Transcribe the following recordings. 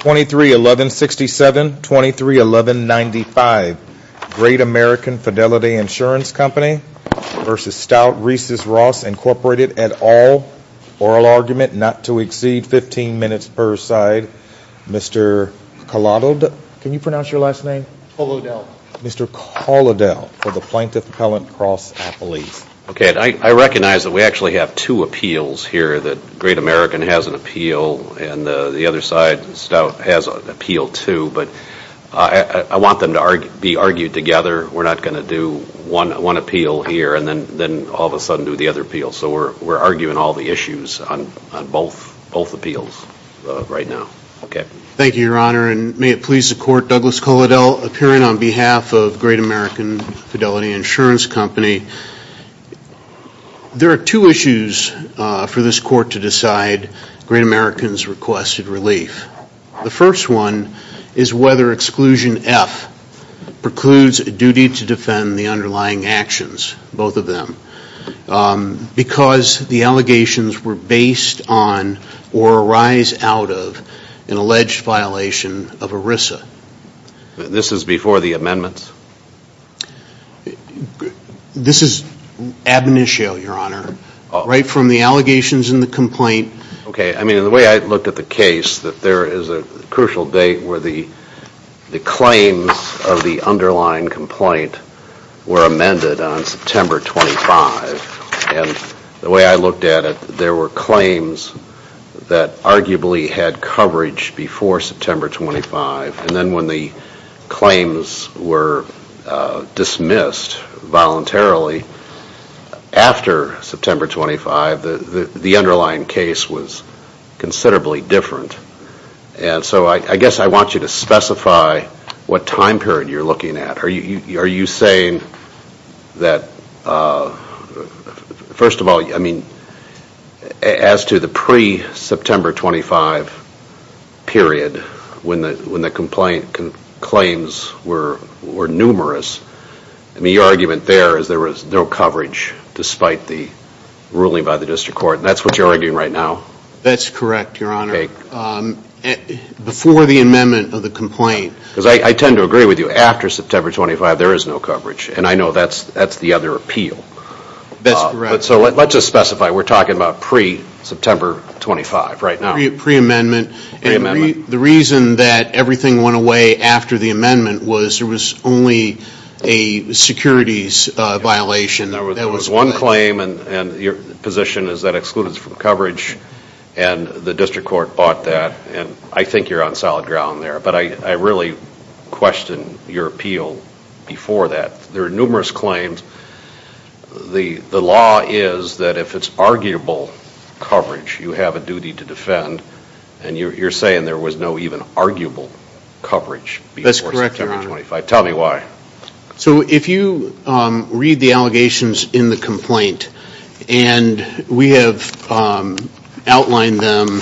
23-11-67, 23-11-95 Great American Fidelity Insurance Company v. Stout Risius Ross Incorporated et al. Oral argument not to exceed 15 minutes per side. Mr. Kolodil, can you pronounce your last name? Kolodil. Mr. Kolodil for the Plaintiff Appellant Cross Appellate. Okay, I recognize that we actually have two appeals here, that Great American has an appeal and the other side, Stout, has an appeal too, but I want them to be argued together. We're not going to do one appeal here and then all of a sudden do the other appeal. So we're arguing all the issues on both appeals right now. Okay. Thank you, Your Honor, and may it please the Court, Douglas Kolodil, appearing on behalf of Great American Fidelity Insurance Company. There are two issues for this Court to decide Great American's requested relief. The first one is whether Exclusion F precludes a duty to defend the underlying actions, both of them, because the allegations were based on or arise out of an alleged violation of ERISA. This is before the amendments? This is ab initio, Your Honor. Right from the allegations in the complaint. Okay, I mean, the way I looked at the case, that there is a crucial date where the claims of the underlying complaint were amended on September 25, and the way I looked at it, there were claims that arguably had coverage before September 25, and then when the claims were dismissed voluntarily after September 25, the underlying case was considerably different. And so I guess I want you to specify what time period you're looking at. Are you saying that, first of all, I mean, as to the pre-September 25 period, when the complaint claims were numerous, I mean, your argument there is there was no coverage despite the ruling by the District Court, and that's what you're arguing right now? That's correct, Your Honor. Before the amendment of the complaint. Because I tend to agree with you, after September 25, there is no coverage, and I know that's the other appeal. That's correct. So let's just specify, we're talking about pre-September 25 right now. Pre-amendment. Pre-amendment. And the reason that everything went away after the amendment was there was only a securities violation. There was one claim, and your position is that excluded from coverage, and the District Court bought that, and I think you're on solid your appeal before that. There are numerous claims. The law is that if it's arguable coverage, you have a duty to defend, and you're saying there was no even arguable coverage before September 25. That's correct, Your Honor. Tell me why. So if you read the allegations in the complaint, and we have outlined them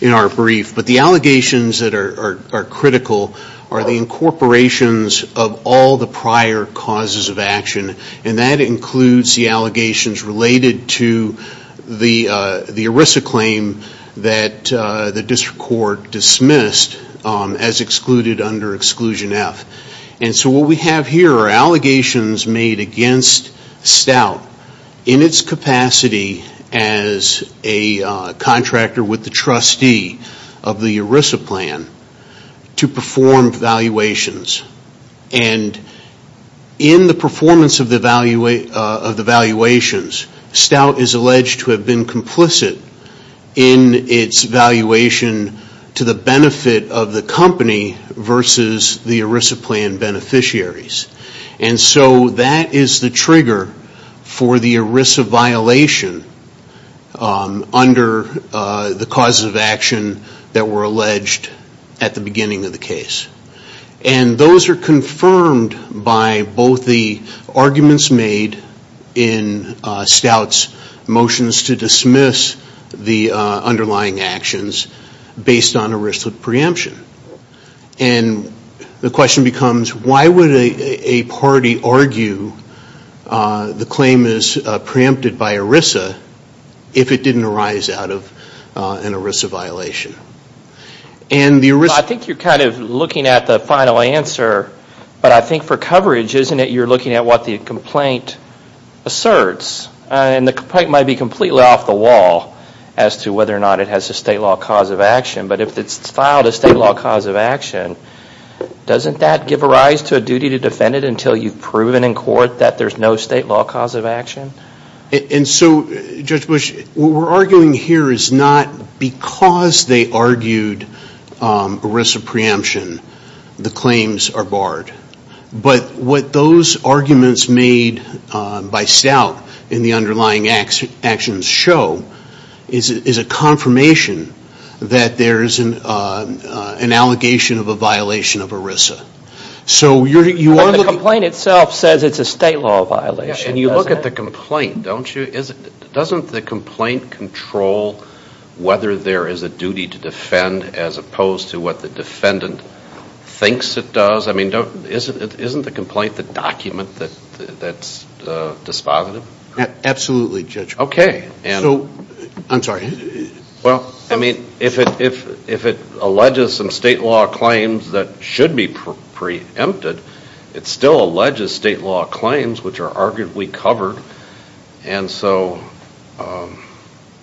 in our brief, but the allegations that are critical are the incorporations of all the prior causes of action, and that includes the allegations related to the ERISA claim that the District Court dismissed as excluded under Exclusion F. And so what we have here are allegations made against Stout in its capacity as a contractor with the trustee of the ERISA plan to perform valuations. And in the performance of the valuations, Stout is alleged to have been complicit in its valuation to the benefit of the company versus the ERISA plan beneficiaries. And so that is the trigger for the ERISA violation under the causes of action that were alleged at the beginning of the case. And those are confirmed by both the arguments made in Stout's motions to dismiss the underlying actions based on ERISA preemption. And the question becomes, why would a party argue the claim is preempted by ERISA if it didn't arise out of an ERISA violation? I think you're kind of looking at the final answer, but I think for coverage, isn't it you're looking at what the complaint asserts? And the complaint might be completely off the wall as to whether or not it has a state law cause of action, but if it's filed a state cause of action, doesn't that give rise to a duty to defend it until you've proven in court that there's no state law cause of action? And so, Judge Bush, what we're arguing here is not because they argued ERISA preemption, the claims are barred. But what those arguments made by Stout in the underlying actions show is a confirmation that there is an allegation of a violation of ERISA. So you are looking... But the complaint itself says it's a state law violation, doesn't it? Yeah, and you look at the complaint, don't you? Doesn't the complaint control whether there is a duty to defend as opposed to what the defendant thinks it does? I mean, isn't the complaint the document that's dispositive? Absolutely, Judge. Okay. So, I'm sorry. Well, I mean, if it alleges some state law claims that should be preempted, it still alleges state law claims which are arguably covered. And so...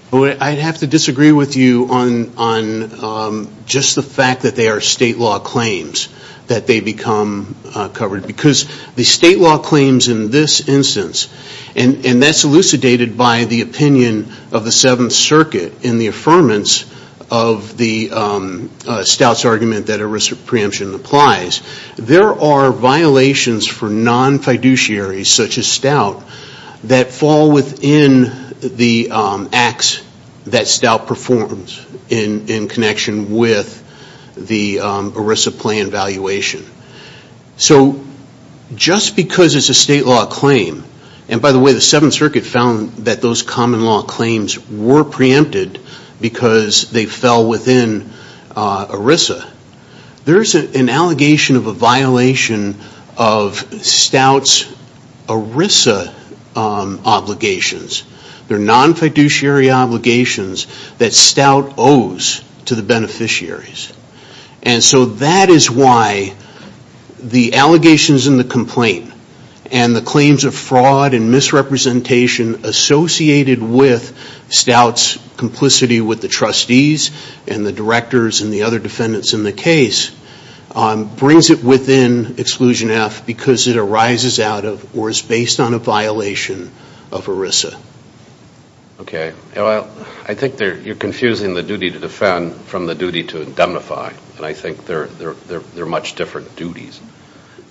I'd have to disagree with you on just the fact that they are state law claims that they become covered. Because the state law claims in this instance, and that's elucidated by the opinion of the Seventh Circuit in the affirmance of the Stout's argument that ERISA preemption applies. There are violations for non-fiduciaries such as Stout that fall within the acts that Stout performs in connection with the ERISA plan valuation. So, just because it's a state law claim... And by the way, the Seventh Circuit found that those common law claims were preempted because they fell within ERISA. There's an allegation of a violation of Stout's ERISA obligations. They're non-fiduciary obligations that Stout owes to the beneficiaries. And so, that is why the allegations in the complaint and the claims of fraud and misrepresentation associated with Stout's complicity with the trustees and the directors and the other defendants in the case brings it within Exclusion F because it arises out of or is based on a violation of ERISA. Okay. Well, I think you're confusing the duty to defend from the duty to indemnify. And I think they're much different duties.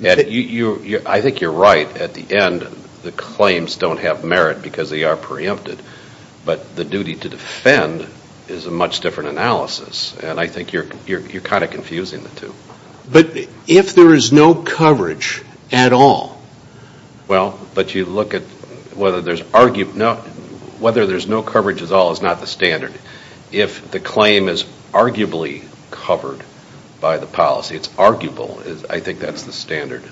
I think you're right. At the end, the claims don't have merit because they are preempted. But the duty to defend is a much different analysis. And I think you're kind of confusing the two. But if there is no coverage at all... Well, but you look at whether there's... Whether there's no coverage at all is not the standard. If the claim is arguably covered by the policy, it's arguable, I think that's the standard.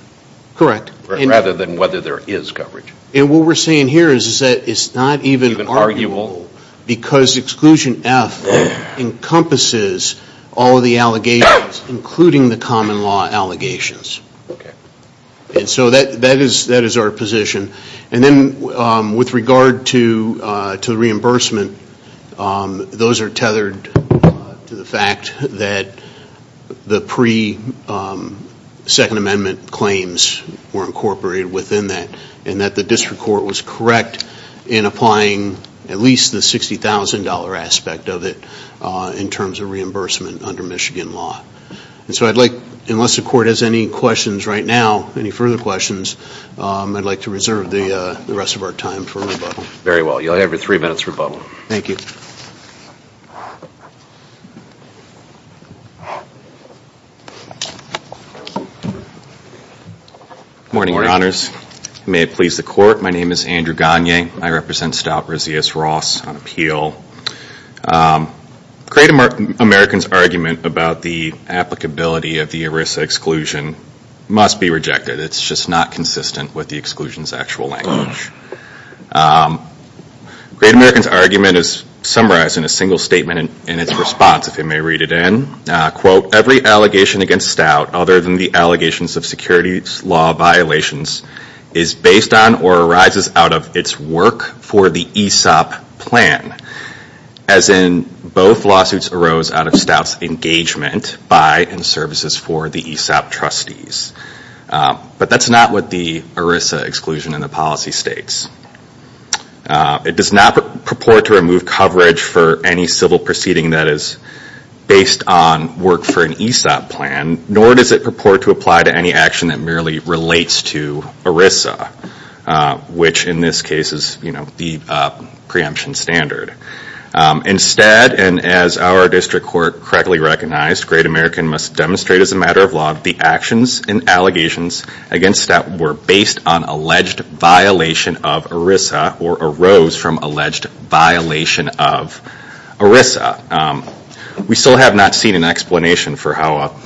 Correct. Rather than whether there is coverage. And what we're saying here is that it's not even arguable because Exclusion F encompasses all of the allegations, including the common law allegations. Okay. And so that is our position. And then with regard to the reimbursement, those are tethered to the fact that the pre-Second Amendment claims were incorporated within that and that the District Court was correct in applying at least the $60,000 aspect of it in terms of reimbursement under Michigan law. And so I'd like, unless the Court has any questions right now, any further questions, I'd like to reserve the rest of our time for rebuttal. Very well. You'll have your three minutes rebuttal. Thank you. Good morning, Your Honors. May it please the Court, my name is Andrew Gagne. I represent Stout, Razias, Ross on appeal. Great American's argument about the applicability of the ERISA exclusion must be rejected. It's just not consistent with the exclusion's actual language. Great American's argument is summarized in a single statement in its response, if you may read it in. Quote, every allegation against Stout, other than the allegations of securities law violations, is based on or arises out of its work for the ESOP plan. As in, both lawsuits arose out of Stout's engagement by and services for the ESOP trustees. But that's not what the ERISA exclusion in the policy states. It does not purport to remove coverage for any civil proceeding that is based on work for an ESOP plan, nor does it purport to apply to any action that merely relates to ERISA, which in this case is the preemption standard. Instead, and as our district court correctly recognized, Great American must demonstrate as a matter of law, the actions and allegations against Stout were based on alleged violation of ERISA or arose from alleged violation of ERISA. We still have not seen an explanation for how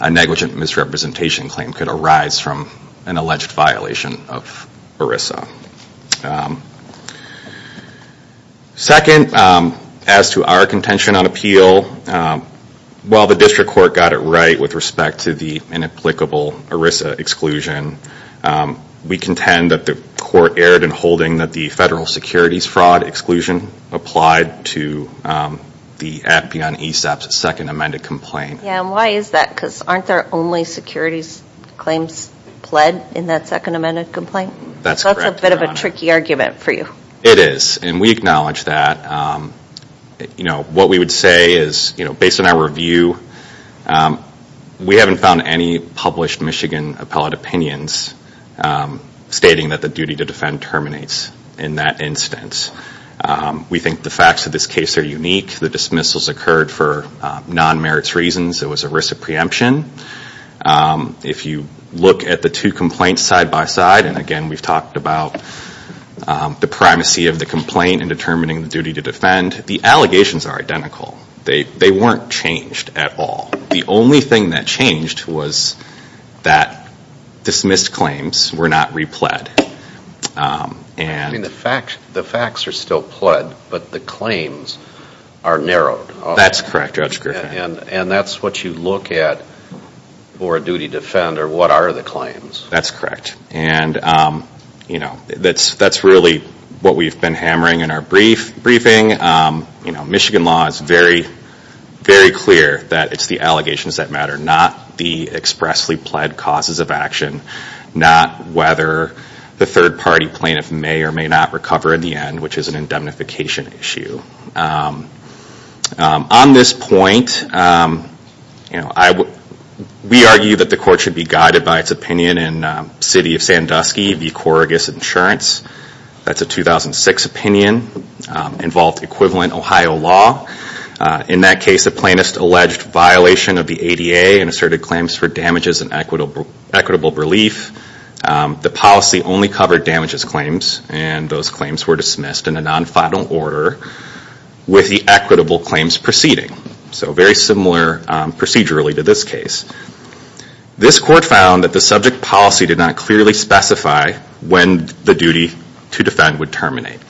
a negligent misrepresentation claim could arise from an alleged violation of ERISA. Second, as to our contention on appeal, while the district court got it right with respect to the inapplicable ERISA exclusion, we contend that the court erred in holding that the federal securities fraud exclusion applied to the Appian ESOP's second amended complaint. Yeah, and why is that? Because aren't there only securities claims pled in that second amended complaint? That's correct, Your Honor. So that's a bit of a tricky argument for you. It is, and we acknowledge that. What we would say is, based on our review, we haven't found any published Michigan appellate opinions stating that the duty to defend terminates in that instance. We think the facts of this case are unique. The dismissals occurred for non-merits reasons. It was ERISA preemption. If you look at the two complaints side by side, and again, we've talked about the primacy of the complaint in determining the duty to defend, the allegations are identical. They weren't changed at all. The only thing that changed was that dismissed claims were not repled. I mean, the facts are still pled, but the claims are narrowed. That's correct, Judge Griffin. And that's what you look at for a duty to defend, or what are the claims? That's correct. And that's really what we've been hammering in our briefing. Michigan law is very, very clear that it's the allegations that matter, not the expressly pled causes of action, not whether the third party plaintiff may or may not recover in the end, which is an indemnification issue. On this point, we argue that the court should be guided by its opinion in City of Sandusky v. Corrigus Insurance. That's a 2006 opinion, involved equivalent Ohio law. In that case, the plaintiff alleged violation of the ADA and asserted claims for damages and equitable relief. The policy only covered damages claims, and those claims were dismissed in a non-final order with the equitable claims proceeding. So very similar procedurally to this case. This court found that the subject policy did not clearly specify when the duty to defend would terminate.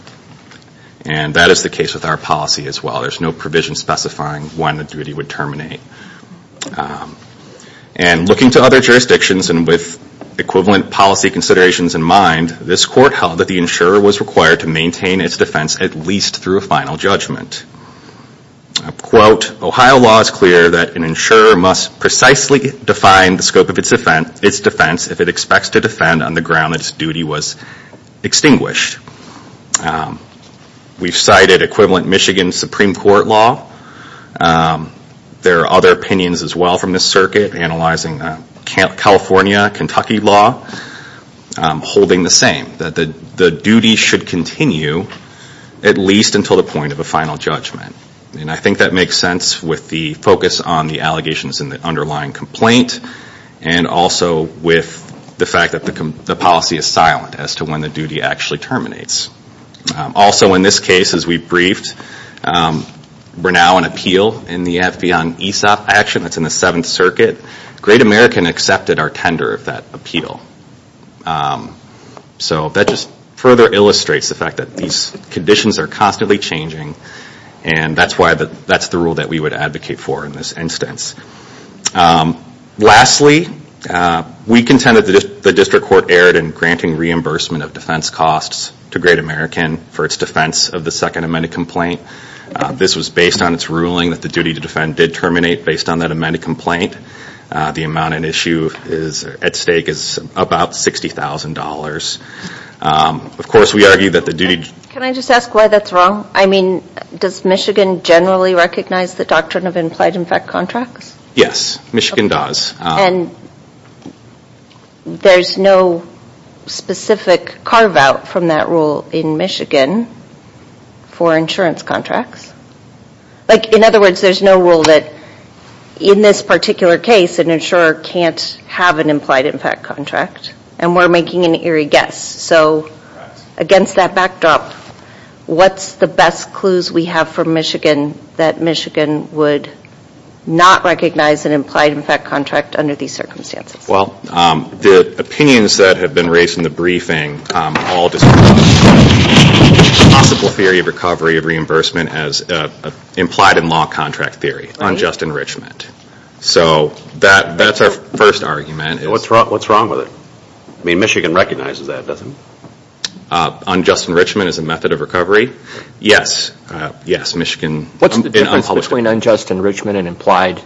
And that is the case with our policy as well. There's no provision specifying when the duty would terminate. And looking to other jurisdictions and with equivalent policy considerations in mind, this court held that the insurer was required to maintain its defense at least through a final judgment. Ohio law is clear that an insurer must precisely define the scope of its defense if it expects to defend on the ground that its duty was extinguished. We've cited equivalent Michigan Supreme Court law. There are other opinions as well from this circuit, analyzing California, Kentucky law, holding the same, that the duty should continue at least until the point of a final judgment. And I think that makes sense with the focus on the allegations in the underlying complaint and also with the fact that the policy is silent as to when the duty actually terminates. Also in this case, as we've briefed, we're now on appeal in the FB on ESOP action that's in the Seventh Circuit. Great American accepted our tender of that appeal. So that just further illustrates the fact that these conditions are constantly changing and that's the rule that we would advocate for in this instance. Lastly, we contend that the district court erred in granting reimbursement of defense costs to Great American for its defense of the Second Amendment complaint. This was based on its ruling that the duty to defend did terminate based on that amended complaint. The amount at issue, at stake, is about $60,000. Of course, we argue that the duty... Can I just ask why that's wrong? I mean, does Michigan generally recognize the doctrine of implied effect contracts? Yes. Michigan does. There's no specific carve out from that rule in Michigan for insurance contracts? In other words, there's no rule that in this particular case, an insurer can't have an implied effect contract and we're making an eerie guess. So against that backdrop, what's the best clues we have for Michigan that Michigan would not recognize an implied effect contract under these circumstances? Well, the opinions that have been raised in the briefing all discuss the possible theory of recovery of reimbursement as implied in law contract theory, unjust enrichment. So that's our first argument. What's wrong with it? I mean, Michigan recognizes that, doesn't it? Unjust enrichment as a method of recovery? Yes. Yes. Michigan... What's the difference between unjust enrichment and implied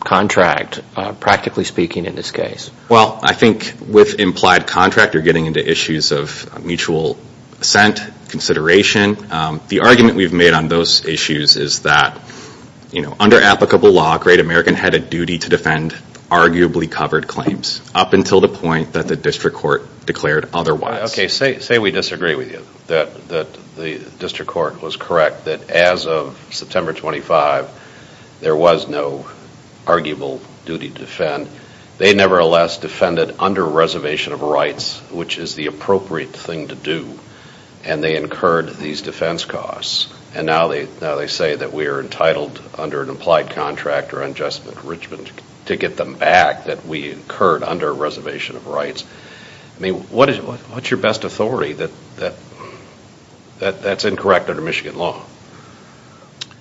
contract, practically speaking, in this case? Well, I think with implied contract, you're getting into issues of mutual assent, consideration. The argument we've made on those issues is that under applicable law, a great American had a duty to defend arguably covered claims up until the point that the district court declared otherwise. Okay. Say we disagree with you, that the district court was correct, that as of September 25, there was no arguable duty to defend. They nevertheless defended under reservation of rights, which is the appropriate thing to do. And they incurred these defense costs. And now they say that we are entitled under an implied contract or unjust enrichment to get them back that we incurred under reservation of rights. I mean, what's your best authority that that's incorrect under Michigan law?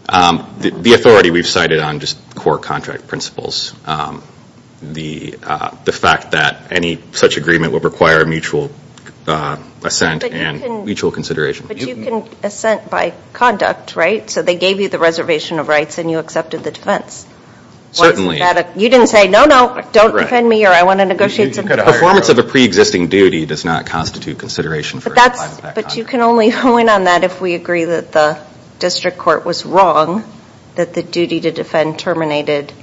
The authority we've cited on just core contract principles. The fact that any such agreement would require a mutual assent and mutual consideration. But you can assent by conduct, right? So they gave you the reservation of rights and you accepted the defense. Certainly. You didn't say, no, no, don't defend me or I want to negotiate something. The performance of a pre-existing duty does not constitute consideration for implied contract. But you can only point on that if we agree that the district court was wrong, that the duty to defend terminated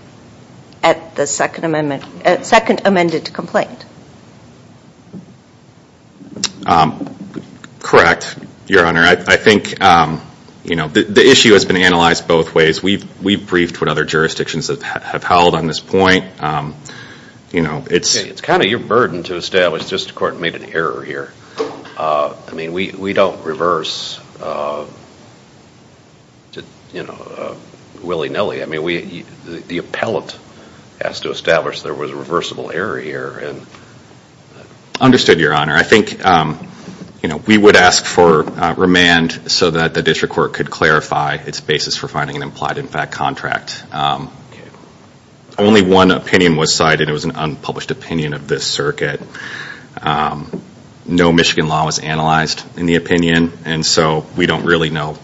at the second amendment, second amended to complaint. Correct, your honor. I think, you know, the issue has been analyzed both ways. We've briefed what other jurisdictions have held on this point. You know, it's kind of your burden to establish district court made an error here. I mean, we don't reverse, you know, willy-nilly. I mean, the appellate has to establish there was a reversible error here. Understood, your honor. I think, you know, we would ask for remand so that the district court could clarify its basis for finding an implied impact contract. Only one opinion was cited. It was an unpublished opinion of this circuit. No Michigan law was analyzed in the opinion. And so, we don't really know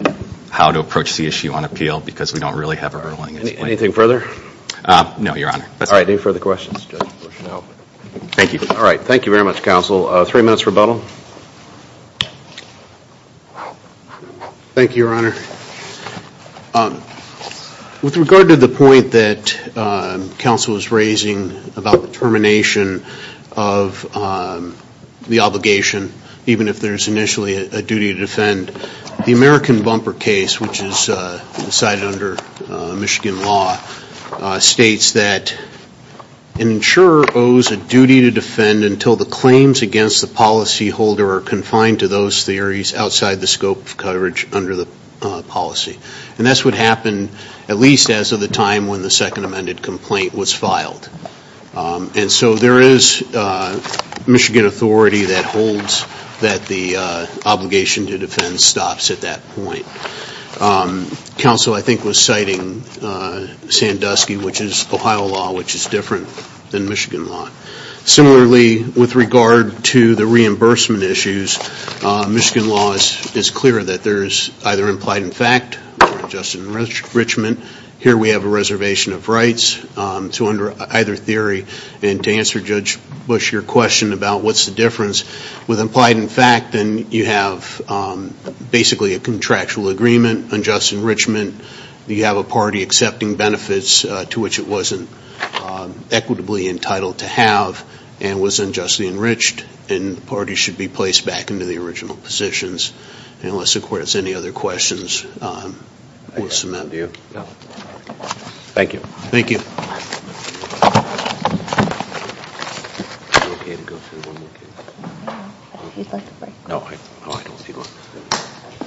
how to approach the issue on appeal because we don't really have a ruling at this point. Anything further? No, your honor. All right. Any further questions? No. Thank you. All right. Thank you very much, counsel. Three minutes for rebuttal. Thank you, your honor. With regard to the point that counsel was raising about the termination of the obligation, even if there's initially a duty to defend, the American bumper case, which is cited under Michigan law, states that an insurer owes a duty to defend until the claims against the policyholder are confined to those theories outside the scope of coverage under the policy. And that's what happened at least as of the time when the second amended complaint was filed. And so, there is Michigan authority that holds that the obligation to defend stops at that point. Counsel, I think, was citing Sandusky, which is Ohio law, which is different than Michigan law. Similarly, with regard to the reimbursement issues, Michigan law is clear that there is either implied in fact or unjust enrichment. Here we have a reservation of rights to either theory. And to answer Judge Bush, your question about what's the difference with implied in fact, then you have basically a contractual agreement, unjust enrichment. You have a party accepting benefits to which it wasn't equitably entitled to have and was unjustly enriched and the party should be placed back into the original positions. And unless the court has any other questions, we'll submit. Thank you. Thank you.